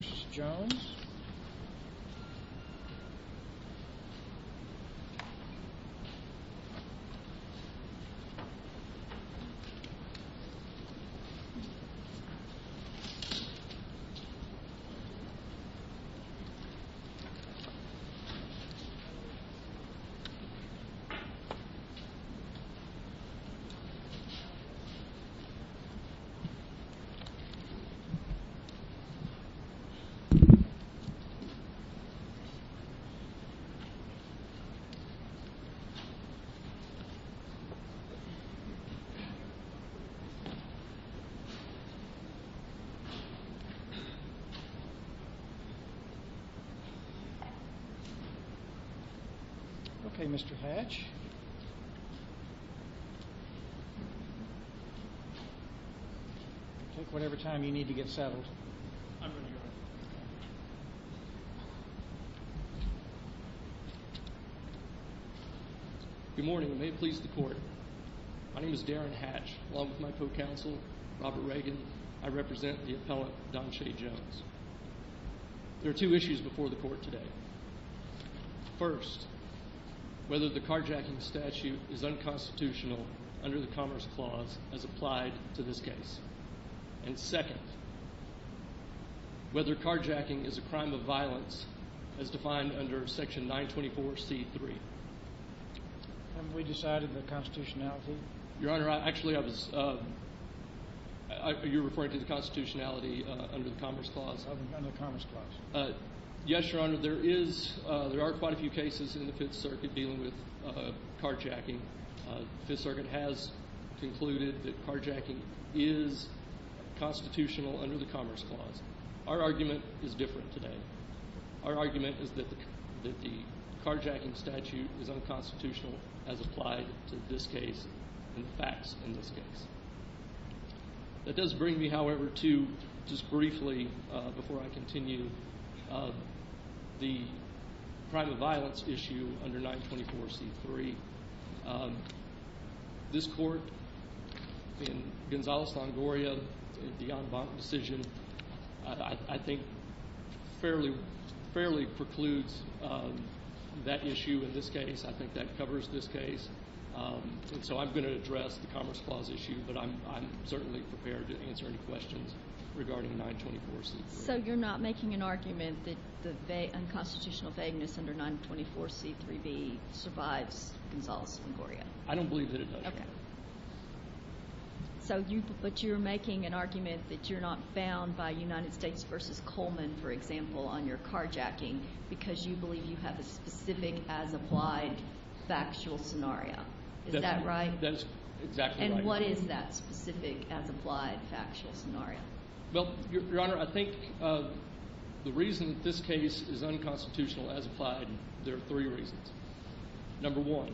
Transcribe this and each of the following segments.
v. Donshay Jones Okay, Mr. Hatch, take whatever time you need to get settled. I'm ready, Your Honor. Good morning, and may it please the Court. My name is Darren Hatch. Along with my co-counsel, Robert Reagan, I represent the appellant, Donshay Jones. There are two issues before the Court today. First, whether the carjacking statute is unconstitutional under the Commerce Clause as applied to this case. And second, whether carjacking is a crime of violence as defined under Section 924C3. Haven't we decided the constitutionality? Your Honor, actually I was – you're referring to the constitutionality under the Commerce Clause? Under the Commerce Clause. Yes, Your Honor, there is – there are quite a few cases in the Fifth Circuit dealing with carjacking. The Fifth Circuit has concluded that carjacking is constitutional under the Commerce Clause. Our argument is different today. Our argument is that the carjacking statute is unconstitutional as applied to this case and the facts in this case. That does bring me, however, to just briefly, before I continue, the crime of violence issue under 924C3. This Court, in Gonzales-Longoria, the en banc decision, I think fairly precludes that issue in this case. I think that covers this case. And so I'm going to address the Commerce Clause issue, but I'm certainly prepared to answer any questions regarding 924C3. So you're not making an argument that the unconstitutional vagueness under 924C3B survives Gonzales-Longoria? I don't believe that it does. Okay. So you – but you're making an argument that you're not bound by United States v. Coleman, for example, on your carjacking because you believe you have a specific as applied factual scenario. Is that right? That's exactly right. And what is that specific as applied factual scenario? Well, Your Honor, I think the reason this case is unconstitutional as applied, there are three reasons. Number one,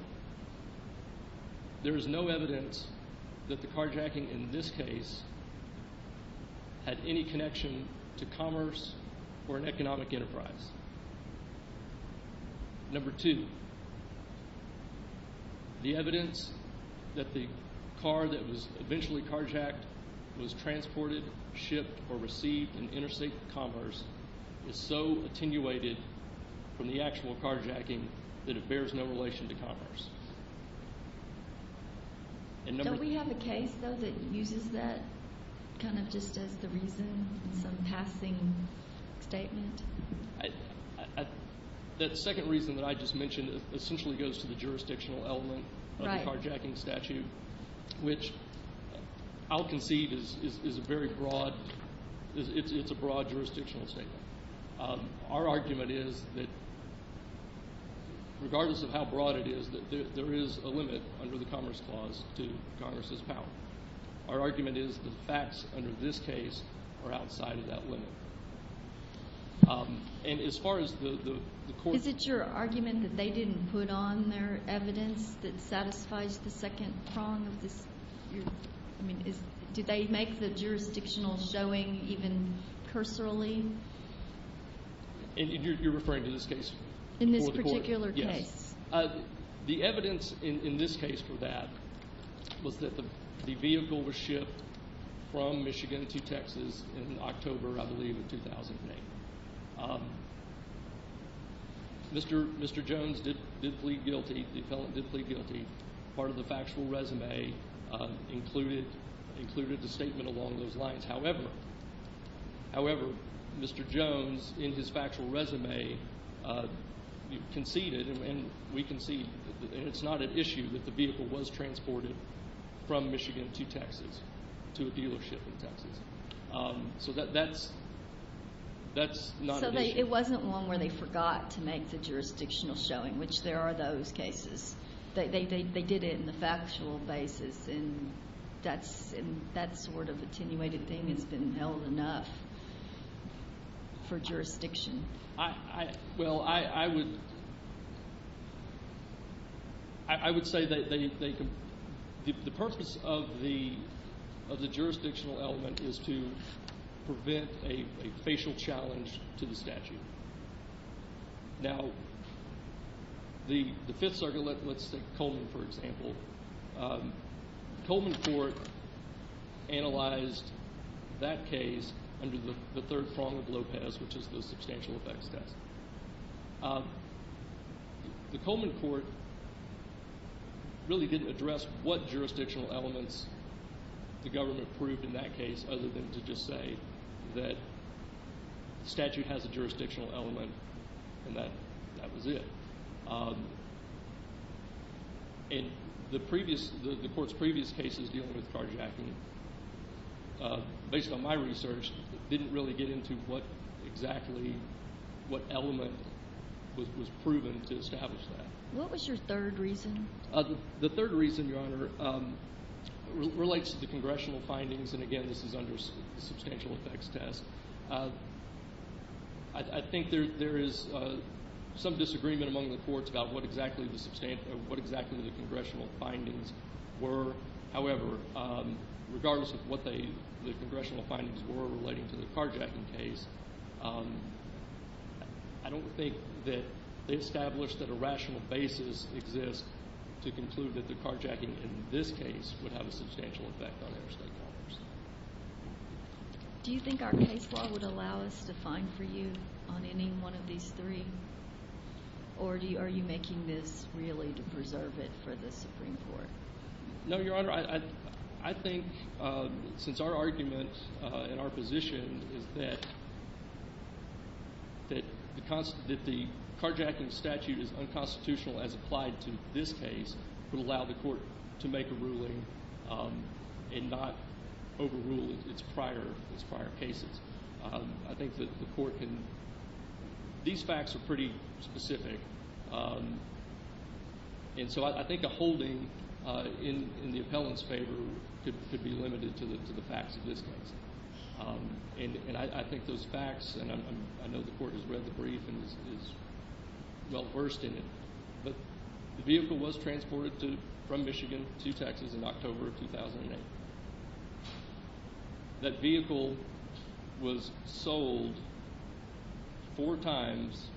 there is no evidence that the carjacking in this case had any connection to commerce or an economic enterprise. Number two, the evidence that the car that was eventually carjacked was transported, shipped, or received in interstate commerce is so attenuated from the actual carjacking that it bears no relation to commerce. Don't we have a case, though, that uses that kind of just as the reason, some passing statement? That second reason that I just mentioned essentially goes to the jurisdictional element of the carjacking statute, which I'll concede is a very broad – it's a broad jurisdictional statement. Our argument is that regardless of how broad it is, there is a limit under the Commerce Clause to Congress's power. Our argument is the facts under this case are outside of that limit. And as far as the court – Is it your argument that they didn't put on their evidence that satisfies the second prong of this – I mean, do they make the jurisdictional showing even cursorily? You're referring to this case? In this particular case. The evidence in this case for that was that the vehicle was shipped from Michigan to Texas in October, I believe, of 2008. Mr. Jones did plead guilty. The appellant did plead guilty. Part of the factual resume included the statement along those lines. However, Mr. Jones, in his factual resume, conceded – and we concede – and it's not an issue that the vehicle was transported from Michigan to Texas, to a dealership in Texas. So that's not an issue. It wasn't one where they forgot to make the jurisdictional showing, which there are those cases. They did it in the factual basis, and that sort of attenuated thing has been held enough for jurisdiction. Well, I would say that they – the purpose of the jurisdictional element is to prevent a facial challenge to the statute. Now, the Fifth Circuit – let's take Coleman, for example. The Coleman court analyzed that case under the third prong of Lopez, which is the substantial effects test. The Coleman court really didn't address what jurisdictional elements the government proved in that case other than to just say that the statute has a jurisdictional element, and that was it. And the previous – the court's previous cases dealing with carjacking, based on my research, didn't really get into what exactly – what element was proven to establish that. What was your third reason? The third reason, Your Honor, relates to the congressional findings, and again, this is under the substantial effects test. I think there is some disagreement among the courts about what exactly the congressional findings were. However, regardless of what the congressional findings were relating to the carjacking case, I don't think that they established that a rational basis exists to conclude that the carjacking in this case would have a substantial effect on interstate commerce. Do you think our case law would allow us to fine for you on any one of these three, or are you making this really to preserve it for the Supreme Court? No, Your Honor. I think since our argument and our position is that the carjacking statute is unconstitutional as applied to this case, it would allow the court to make a ruling and not overrule its prior cases. I think that the court can – these facts are pretty specific, and so I think a holding in the appellant's favor could be limited to the facts of this case. And I think those facts – and I know the court has read the brief and is well versed in it – but the vehicle was transported from Michigan to Texas in October of 2008. That vehicle was sold four times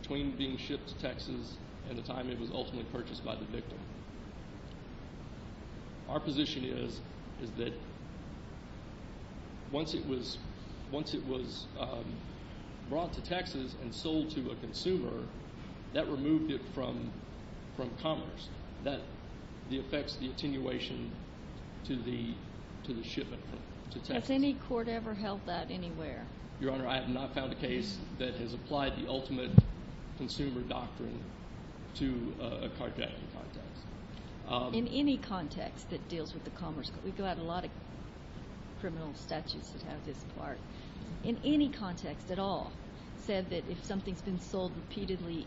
between being shipped to Texas and the time it was ultimately purchased by the victim. Our position is that once it was brought to Texas and sold to a consumer, that removed it from commerce. That affects the attenuation to the shipment to Texas. Has any court ever held that anywhere? Your Honor, I have not found a case that has applied the ultimate consumer doctrine to a carjacking context. In any context that deals with the commerce – we've got a lot of criminal statutes that have this part – in any context at all said that if something's been sold repeatedly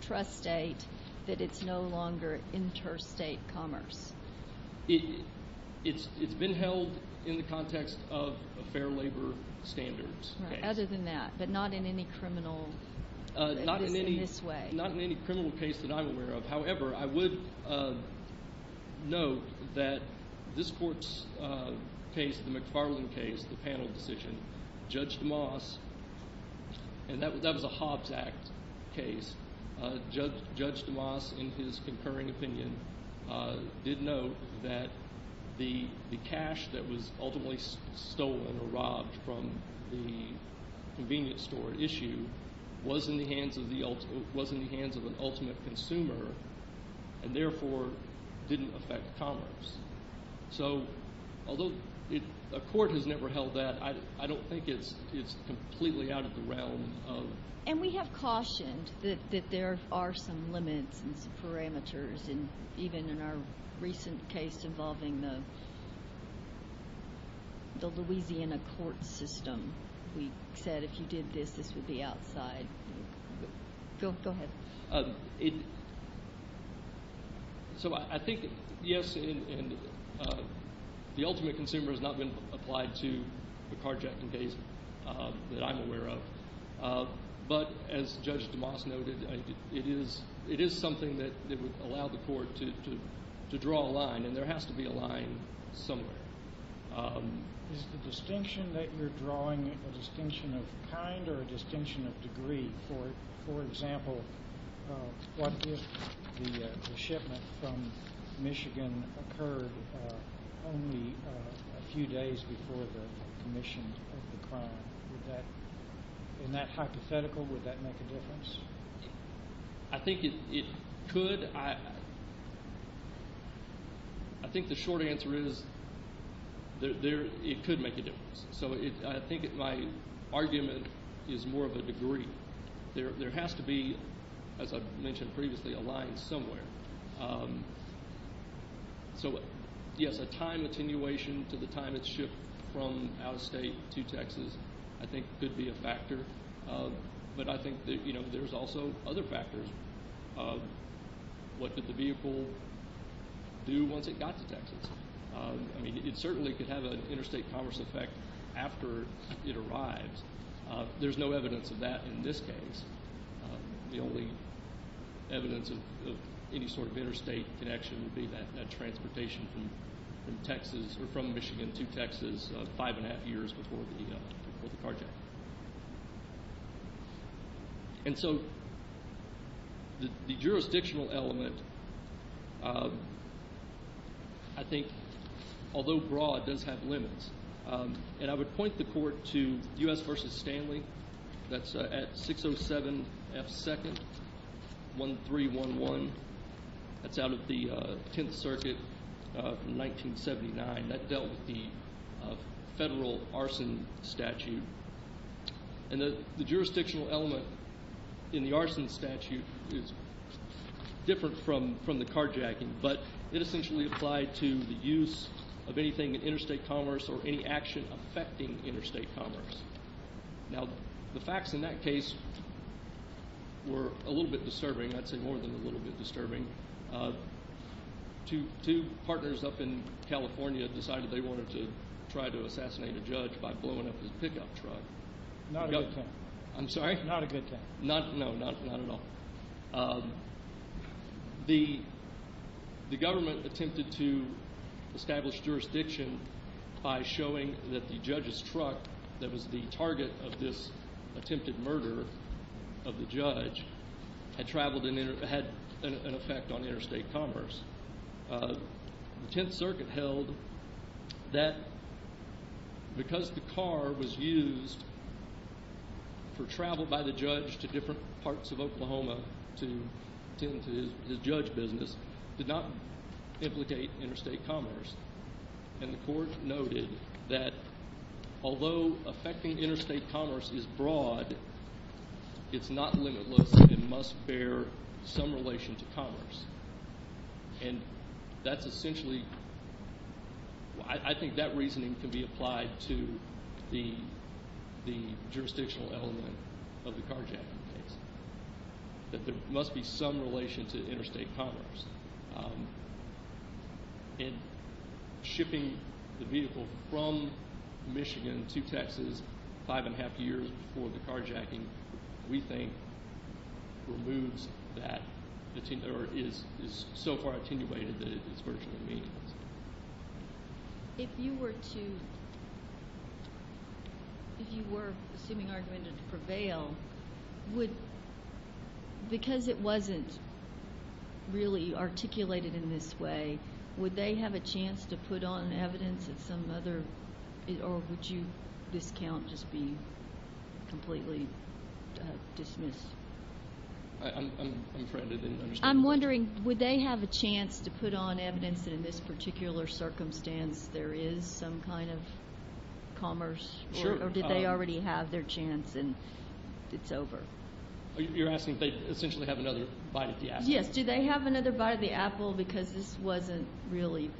intrastate, that it's no longer interstate commerce? It's been held in the context of a fair labor standards case. Right. Other than that, but not in any criminal case in this way. Judge DeMoss – and that was a Hobbs Act case – Judge DeMoss in his concurring opinion did note that the cash that was ultimately stolen or robbed from the convenience store at issue was in the hands of an ultimate consumer and therefore didn't affect commerce. So although a court has never held that, I don't think it's completely out of the realm of… And we have cautioned that there are some limits and some parameters even in our recent case involving the Louisiana court system. We said if you did this, this would be outside. Go ahead. So I think, yes, the ultimate consumer has not been applied to the carjacking case that I'm aware of. But as Judge DeMoss noted, it is something that would allow the court to draw a line, and there has to be a line somewhere. Is the distinction that you're drawing a distinction of kind or a distinction of degree? For example, what if the shipment from Michigan occurred only a few days before the commission of the crime? Would that – in that hypothetical, would that make a difference? I think it could. I think the short answer is it could make a difference. So I think my argument is more of a degree. There has to be, as I mentioned previously, a line somewhere. So, yes, a time attenuation to the time it's shipped from out of state to Texas I think could be a factor, but I think there's also other factors. What did the vehicle do once it got to Texas? I mean, it certainly could have an interstate commerce effect after it arrives. There's no evidence of that in this case. The only evidence of any sort of interstate connection would be that transportation from Michigan to Texas five and a half years before the carjacking. And so the jurisdictional element I think, although broad, does have limits. And I would point the court to U.S. v. Stanley. That's at 607 F. 2nd, 1311. That's out of the Tenth Circuit from 1979. That dealt with the federal arson statute. And the jurisdictional element in the arson statute is different from the carjacking, but it essentially applied to the use of anything in interstate commerce or any action affecting interstate commerce. Now, the facts in that case were a little bit disturbing. I'd say more than a little bit disturbing. Two partners up in California decided they wanted to try to assassinate a judge by blowing up his pickup truck. Not a good thing. I'm sorry? Not a good thing. No, not at all. The government attempted to establish jurisdiction by showing that the judge's truck that was the target of this attempted murder of the judge had an effect on interstate commerce. The Tenth Circuit held that because the car was used for travel by the judge to different parts of Oklahoma to tend to his judge business did not implicate interstate commerce. And the court noted that although affecting interstate commerce is broad, it's not limitless and must bear some relation to commerce. And that's essentially, I think that reasoning can be applied to the jurisdictional element of the carjacking case, that there must be some relation to interstate commerce. And shipping the vehicle from Michigan to Texas five and a half years before the carjacking, we think, removes that or is so far attenuated that it's virtually meaningless. If you were to, if you were assuming argumentative prevail, would, because it wasn't really articulated in this way, would they have a chance to put on evidence at some other, or would you discount just being completely dismissed? I'm afraid I didn't understand. I'm wondering, would they have a chance to put on evidence that in this particular circumstance there is some kind of commerce or did they already have their chance and it's over? You're asking if they essentially have another bite of the apple? Yes. Do they have another bite of the apple because this wasn't really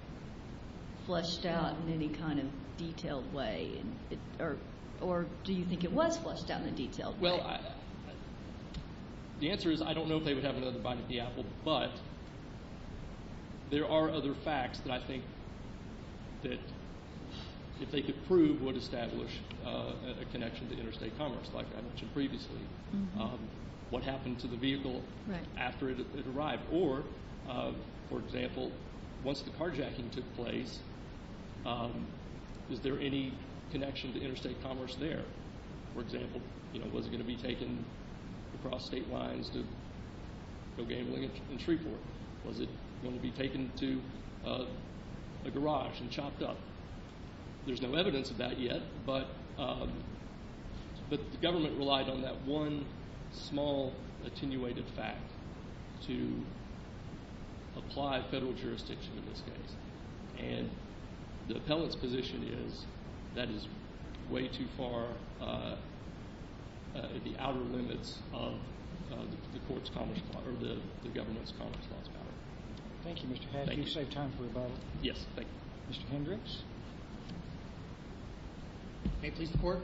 flushed out in any kind of detailed way? Or do you think it was flushed out in a detailed way? Well, the answer is I don't know if they would have another bite of the apple, but there are other facts that I think that if they could prove would establish a connection to interstate commerce, like I mentioned previously. What happened to the vehicle after it arrived? Or, for example, once the carjacking took place, is there any connection to interstate commerce there? For example, was it going to be taken across state lines to go gambling in Shreveport? Was it going to be taken to a garage and chopped up? There's no evidence of that yet, but the government relied on that one small attenuated fact to apply federal jurisdiction in this case. And the appellant's position is that is way too far the outer limits of the government's commerce laws. Thank you, Mr. Hadley. You saved time for a vote. Yes, thank you. Mr. Hendricks? May it please the Court?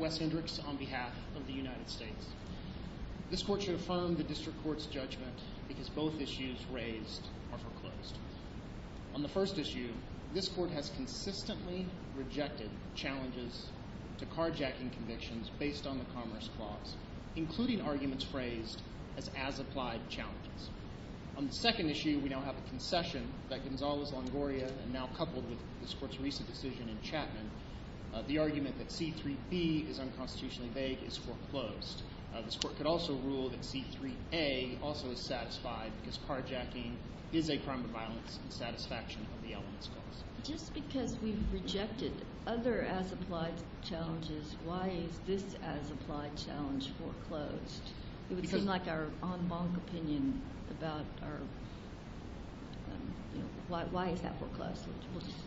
Wes Hendricks on behalf of the United States. This Court should affirm the District Court's judgment because both issues raised are foreclosed. On the first issue, this Court has consistently rejected challenges to carjacking convictions based on the Commerce Clause, including arguments phrased as as-applied challenges. On the second issue, we now have a concession that Gonzalez-Longoria, and now coupled with this Court's recent decision in Chapman, the argument that C-3B is unconstitutionally vague is foreclosed. This Court could also rule that C-3A also is satisfied because carjacking is a crime of violence in satisfaction of the Elements Clause. Just because we've rejected other as-applied challenges, why is this as-applied challenge foreclosed? It would seem like our en banc opinion about our – why is that foreclosed?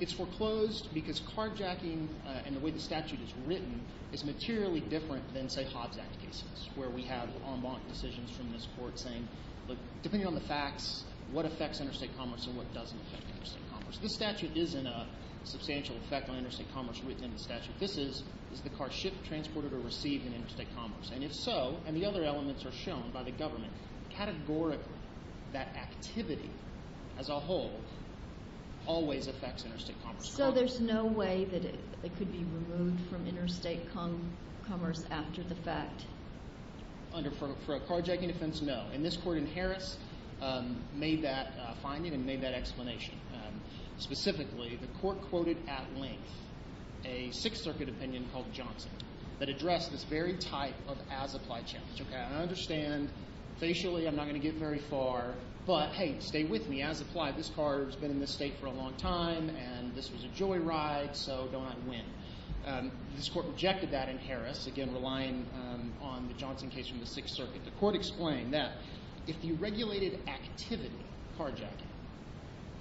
It's foreclosed because carjacking and the way the statute is written is materially different than, say, Hobbs Act cases where we have en banc decisions from this Court saying, look, depending on the facts, what affects interstate commerce and what doesn't affect interstate commerce. This statute isn't a substantial effect on interstate commerce within the statute. This is, is the car shipped, transported, or received in interstate commerce? And if so, and the other elements are shown by the government, categorically that activity as a whole always affects interstate commerce. So there's no way that it could be removed from interstate commerce after the fact? Under – for a carjacking offense, no. And this court in Harris made that finding and made that explanation. Specifically, the court quoted at length a Sixth Circuit opinion called Johnson that addressed this very type of as-applied challenge. Okay, I understand. Facially, I'm not going to get very far. But, hey, stay with me. As-applied, this car has been in this state for a long time, and this was a joyride, so go out and win. This court rejected that in Harris, again, relying on the Johnson case from the Sixth Circuit. The court explained that if the regulated activity, carjacking,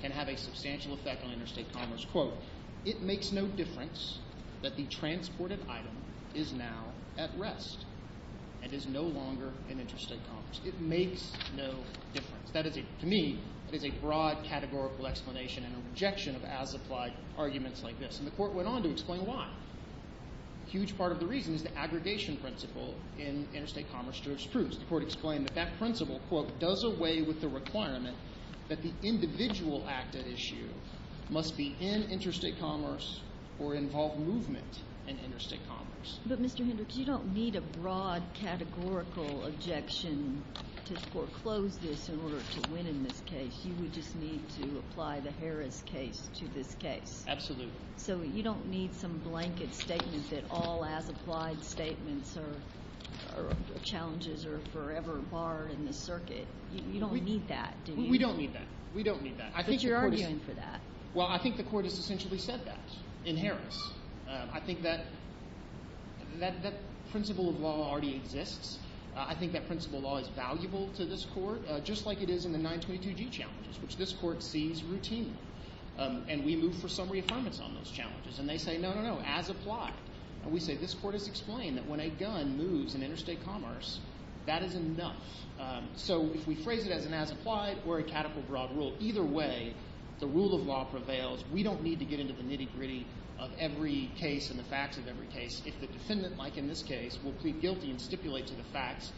can have a substantial effect on interstate commerce, quote, it makes no difference that the transported item is now at rest and is no longer in interstate commerce. It makes no difference. That is, to me, it is a broad categorical explanation and a rejection of as-applied arguments like this. And the court went on to explain why. A huge part of the reason is the aggregation principle in interstate commerce jurisprudence. The court explained that that principle, quote, does away with the requirement that the individual act at issue must be in interstate commerce or involve movement in interstate commerce. But, Mr. Hendricks, you don't need a broad categorical objection to foreclose this in order to win in this case. You would just need to apply the Harris case to this case. Absolutely. So you don't need some blanket statement that all as-applied statements or challenges are forever barred in the circuit. You don't need that, do you? We don't need that. We don't need that. But you're arguing for that. Well, I think the court has essentially said that in Harris. I think that principle of law already exists. I think that principle of law is valuable to this court, just like it is in the 922G challenges, which this court sees routinely. And we move for some reaffirmance on those challenges. And they say, no, no, no, as-applied. And we say this court has explained that when a gun moves in interstate commerce, that is enough. So if we phrase it as an as-applied or a categorical broad rule, either way, the rule of law prevails. We don't need to get into the nitty-gritty of every case and the facts of every case. If the defendant, like in this case, will plead guilty and stipulate to the facts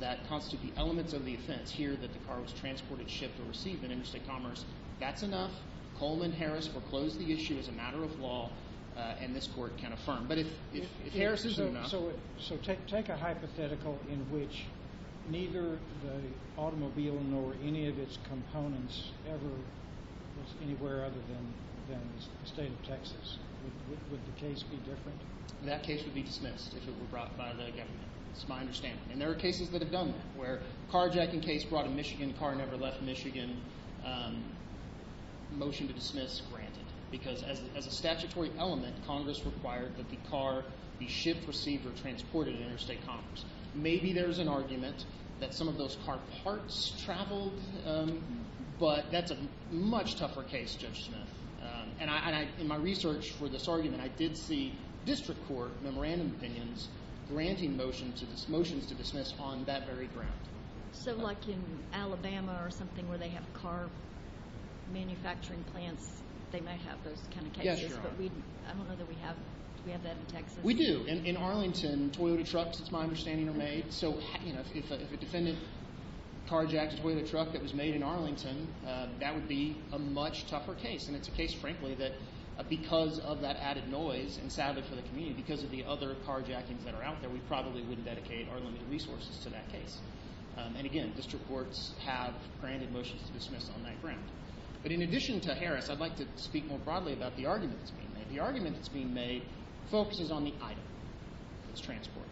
that constitute the elements of the offense, whether it's here that the car was transported, shipped, or received in interstate commerce, that's enough. Coleman Harris foreclosed the issue as a matter of law, and this court can affirm. But if Harris isn't enough— So take a hypothetical in which neither the automobile nor any of its components ever was anywhere other than the state of Texas. Would the case be different? That case would be dismissed if it were brought by the government. That's my understanding. And there are cases that have done that, where a carjacking case brought a Michigan car, never left Michigan, motion to dismiss, granted. Because as a statutory element, Congress required that the car be shipped, received, or transported in interstate commerce. Maybe there's an argument that some of those car parts traveled, but that's a much tougher case, Judge Smith. And in my research for this argument, I did see district court memorandum opinions granting motions to dismiss on that very ground. So like in Alabama or something where they have car manufacturing plants, they might have those kind of cases. Yes, Your Honor. But I don't know that we have that in Texas. We do. In Arlington, Toyota trucks, it's my understanding, are made. So if a defendant carjacked a Toyota truck that was made in Arlington, that would be a much tougher case. And it's a case, frankly, that because of that added noise, and sadly for the community, because of the other carjackings that are out there, we probably wouldn't dedicate our limited resources to that case. And again, district courts have granted motions to dismiss on that ground. But in addition to Harris, I'd like to speak more broadly about the argument that's being made. The argument that's being made focuses on the item that's transported.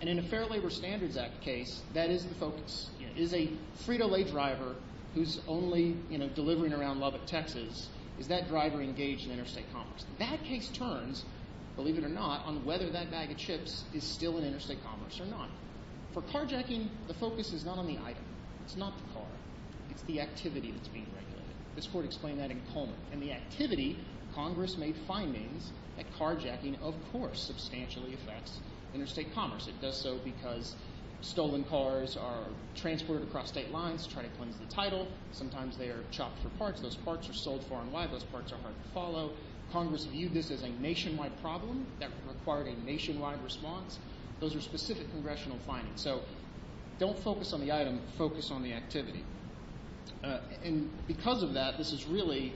And in a Fair Labor Standards Act case, that is the focus. It is a free-to-lay driver who's only delivering around Lubbock, Texas. Is that driver engaged in interstate commerce? That case turns, believe it or not, on whether that bag of chips is still in interstate commerce or not. For carjacking, the focus is not on the item. It's not the car. It's the activity that's being regulated. This court explained that in Coleman. And the activity, Congress made findings that carjacking, of course, substantially affects interstate commerce. It does so because stolen cars are transported across state lines to try to cleanse the title. Sometimes they are chopped for parts. Those parts are sold far and wide. Those parts are hard to follow. Congress viewed this as a nationwide problem that required a nationwide response. Those are specific congressional findings. So don't focus on the item. Focus on the activity. And because of that, this is really,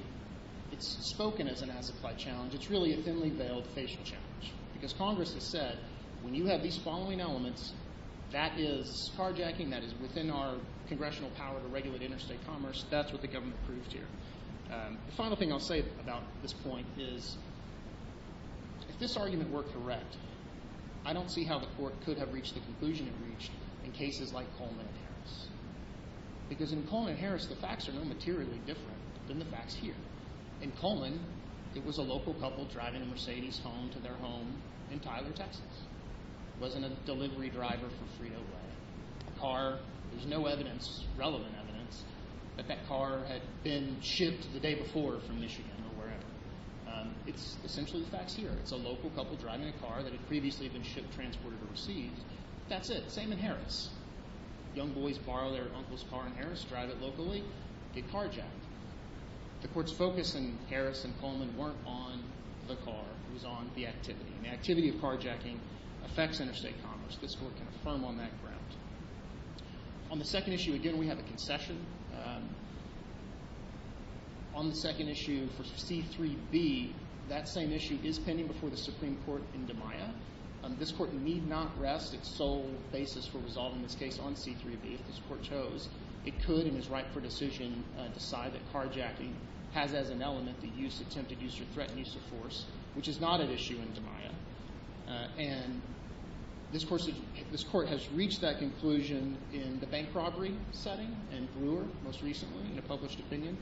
it's spoken as an as-applied challenge. It's really a thinly-veiled facial challenge because Congress has said when you have these following elements, that is carjacking, that is within our congressional power to regulate interstate commerce. That's what the government proved here. The final thing I'll say about this point is if this argument were correct, I don't see how the court could have reached the conclusion it reached in cases like Coleman and Harris because in Coleman and Harris the facts are no materially different than the facts here. In Coleman, it was a local couple driving a Mercedes home to their home in Tyler, Texas. It wasn't a delivery driver for Frito-Lay. A car, there's no evidence, relevant evidence, that that car had been shipped the day before from Michigan or wherever. It's essentially the facts here. It's a local couple driving a car that had previously been shipped, transported, or received. That's it. The same in Harris. Young boys borrow their uncle's car in Harris, drive it locally, get carjacked. The court's focus in Harris and Coleman weren't on the car. It was on the activity, and the activity of carjacking affects interstate commerce. This court can affirm on that ground. On the second issue, again, we have a concession. On the second issue for C-3B, that same issue is pending before the Supreme Court in DiMaia. This court need not rest its sole basis for resolving this case on C-3B if this court chose. It could, in its rightful decision, decide that carjacking has as an element the use, attempted use, or threatened use of force, which is not an issue in DiMaia. And this court has reached that conclusion in the bank robbery setting in Brewer most recently in a published opinion.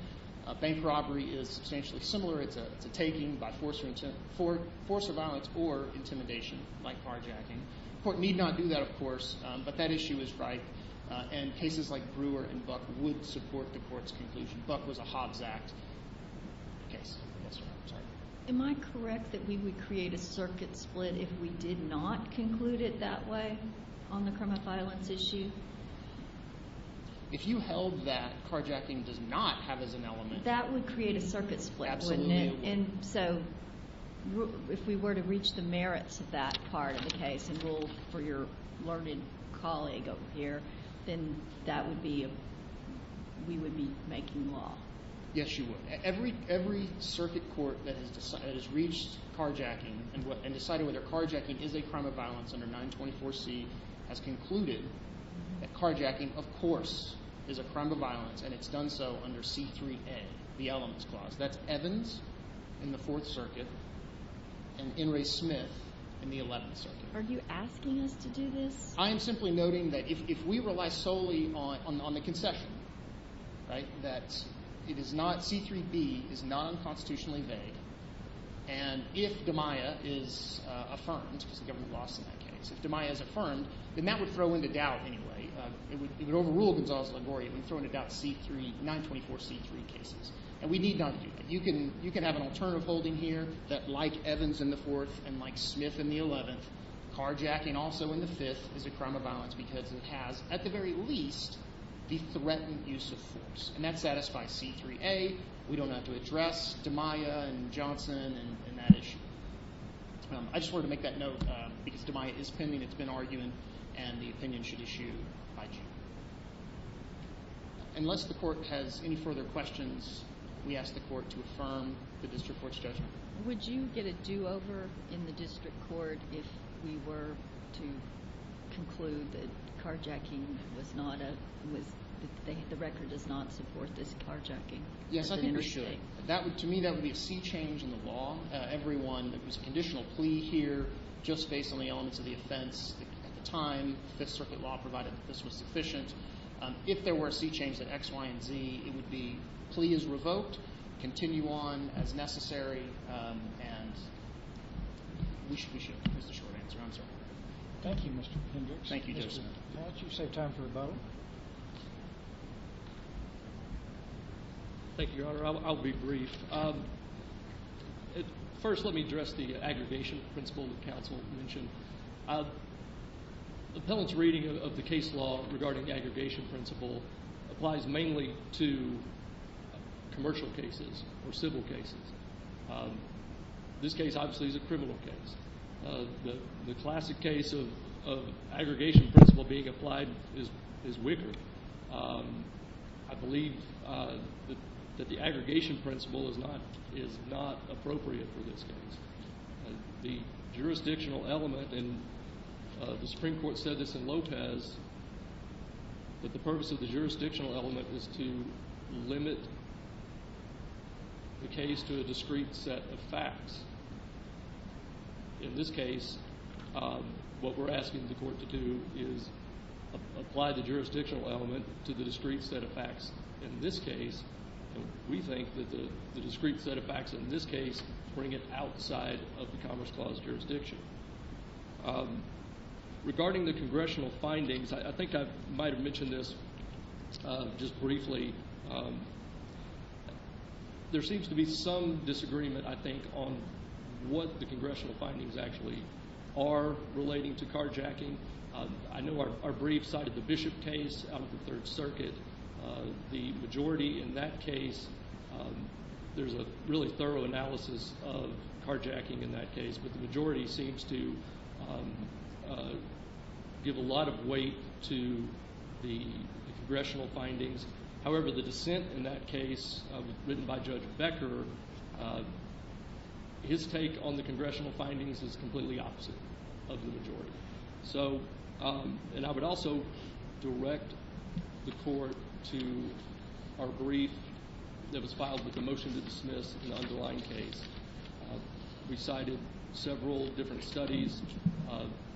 Bank robbery is substantially similar. It's a taking by force or violence or intimidation like carjacking. The court need not do that, of course, but that issue is right, and cases like Brewer and Buck would support the court's conclusion. Buck was a Hobbs Act case. Am I correct that we would create a circuit split if we did not conclude it that way on the crime of violence issue? If you held that carjacking does not have as an element— That would create a circuit split, wouldn't it? Absolutely, it would. And so if we were to reach the merits of that part of the case and rule for your learned colleague over here, then that would be a—we would be making law. Yes, you would. Every circuit court that has reached carjacking and decided whether carjacking is a crime of violence under 924C has concluded that carjacking, of course, is a crime of violence, and it's done so under C3A, the elements clause. That's Evans in the Fourth Circuit and Inres Smith in the Eleventh Circuit. Are you asking us to do this? I am simply noting that if we rely solely on the concession, right, that it is not—C3B is not unconstitutionally vague. And if DiMaia is affirmed, because the government lost in that case, if DiMaia is affirmed, then that would throw into doubt anyway. It would overrule Gonzales-Lagoria. It would throw into doubt C3—924C3 cases, and we need not do that. You can have an alternative holding here that, like Evans in the Fourth and like Smith in the Eleventh, carjacking also in the Fifth is a crime of violence because it has, at the very least, the threatened use of force. And that satisfies C3A. We don't have to address DiMaia and Johnson and that issue. I just wanted to make that note because DiMaia is pending. It's been arguing, and the opinion should issue by June. Unless the court has any further questions, we ask the court to affirm the district court's judgment. Would you get a do-over in the district court if we were to conclude that carjacking was not a—the record does not support this carjacking? Yes, I think we should. To me, that would be a sea change in the law. It was a conditional plea here just based on the elements of the offense at the time. The Fifth Circuit law provided that this was sufficient. If there were a sea change at X, Y, and Z, it would be plea is revoked, continue on as necessary, and we should—there's the short answer. I'm sorry. Thank you, Mr. Hendricks. Thank you, Justice. May I ask you to save time for a vote? Thank you, Your Honor. I'll be brief. First, let me address the aggregation principle that counsel mentioned. The appellant's reading of the case law regarding aggregation principle applies mainly to commercial cases or civil cases. This case, obviously, is a criminal case. The classic case of aggregation principle being applied is Wicker. I believe that the aggregation principle is not appropriate for this case. The jurisdictional element, and the Supreme Court said this in Lotez, that the purpose of the jurisdictional element is to limit the case to a discrete set of facts. In this case, what we're asking the court to do is apply the jurisdictional element to the discrete set of facts. In this case, we think that the discrete set of facts in this case bring it outside of the Commerce Clause jurisdiction. Regarding the congressional findings, I think I might have mentioned this just briefly. There seems to be some disagreement, I think, on what the congressional findings actually are relating to carjacking. I know our brief cited the Bishop case out of the Third Circuit. The majority in that case, there's a really thorough analysis of carjacking in that case, but the majority seems to give a lot of weight to the congressional findings. However, the dissent in that case written by Judge Becker, his take on the congressional findings is completely opposite of the majority. I would also direct the court to our brief that was filed with the motion to dismiss in the underlying case. We cited several different studies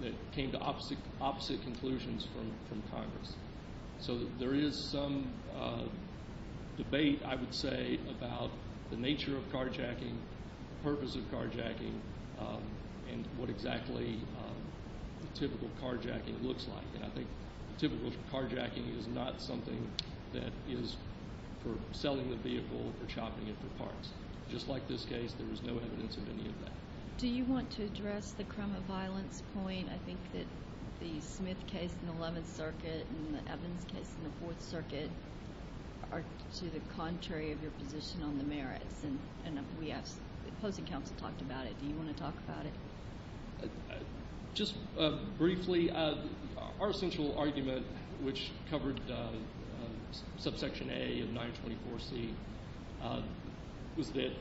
that came to opposite conclusions from Congress. There is some debate, I would say, about the nature of carjacking, the purpose of carjacking, and what exactly typical carjacking looks like. I think typical carjacking is not something that is for selling the vehicle or shopping it for parts. Just like this case, there is no evidence of any of that. Do you want to address the crime of violence point? I think that the Smith case in the Eleventh Circuit and the Evans case in the Fourth Circuit are to the contrary of your position on the merits. And we have – the opposing counsel talked about it. Do you want to talk about it? Just briefly, our central argument, which covered subsection A of 924C, was that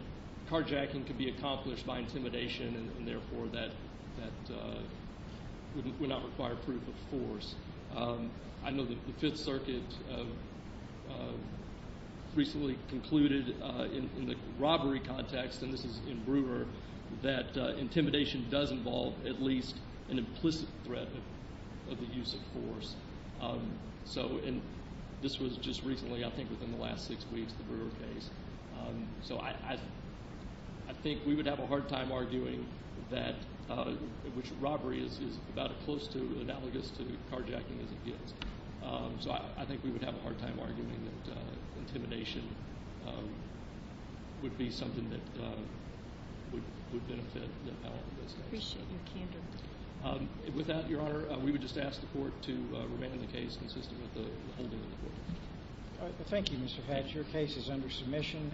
carjacking could be accomplished by intimidation and, therefore, that would not require proof of force. I know that the Fifth Circuit recently concluded in the robbery context, and this is in Brewer, that intimidation does involve at least an implicit threat of the use of force. So – and this was just recently, I think within the last six weeks, the Brewer case. So I think we would have a hard time arguing that – which robbery is about as close to analogous to carjacking as it gets. So I think we would have a hard time arguing that intimidation would be something that would benefit the appellant in this case. I appreciate your candor. With that, Your Honor, we would just ask the court to remand the case consistent with the holding of the court. Thank you, Mr. Hatch. Your case is under submission.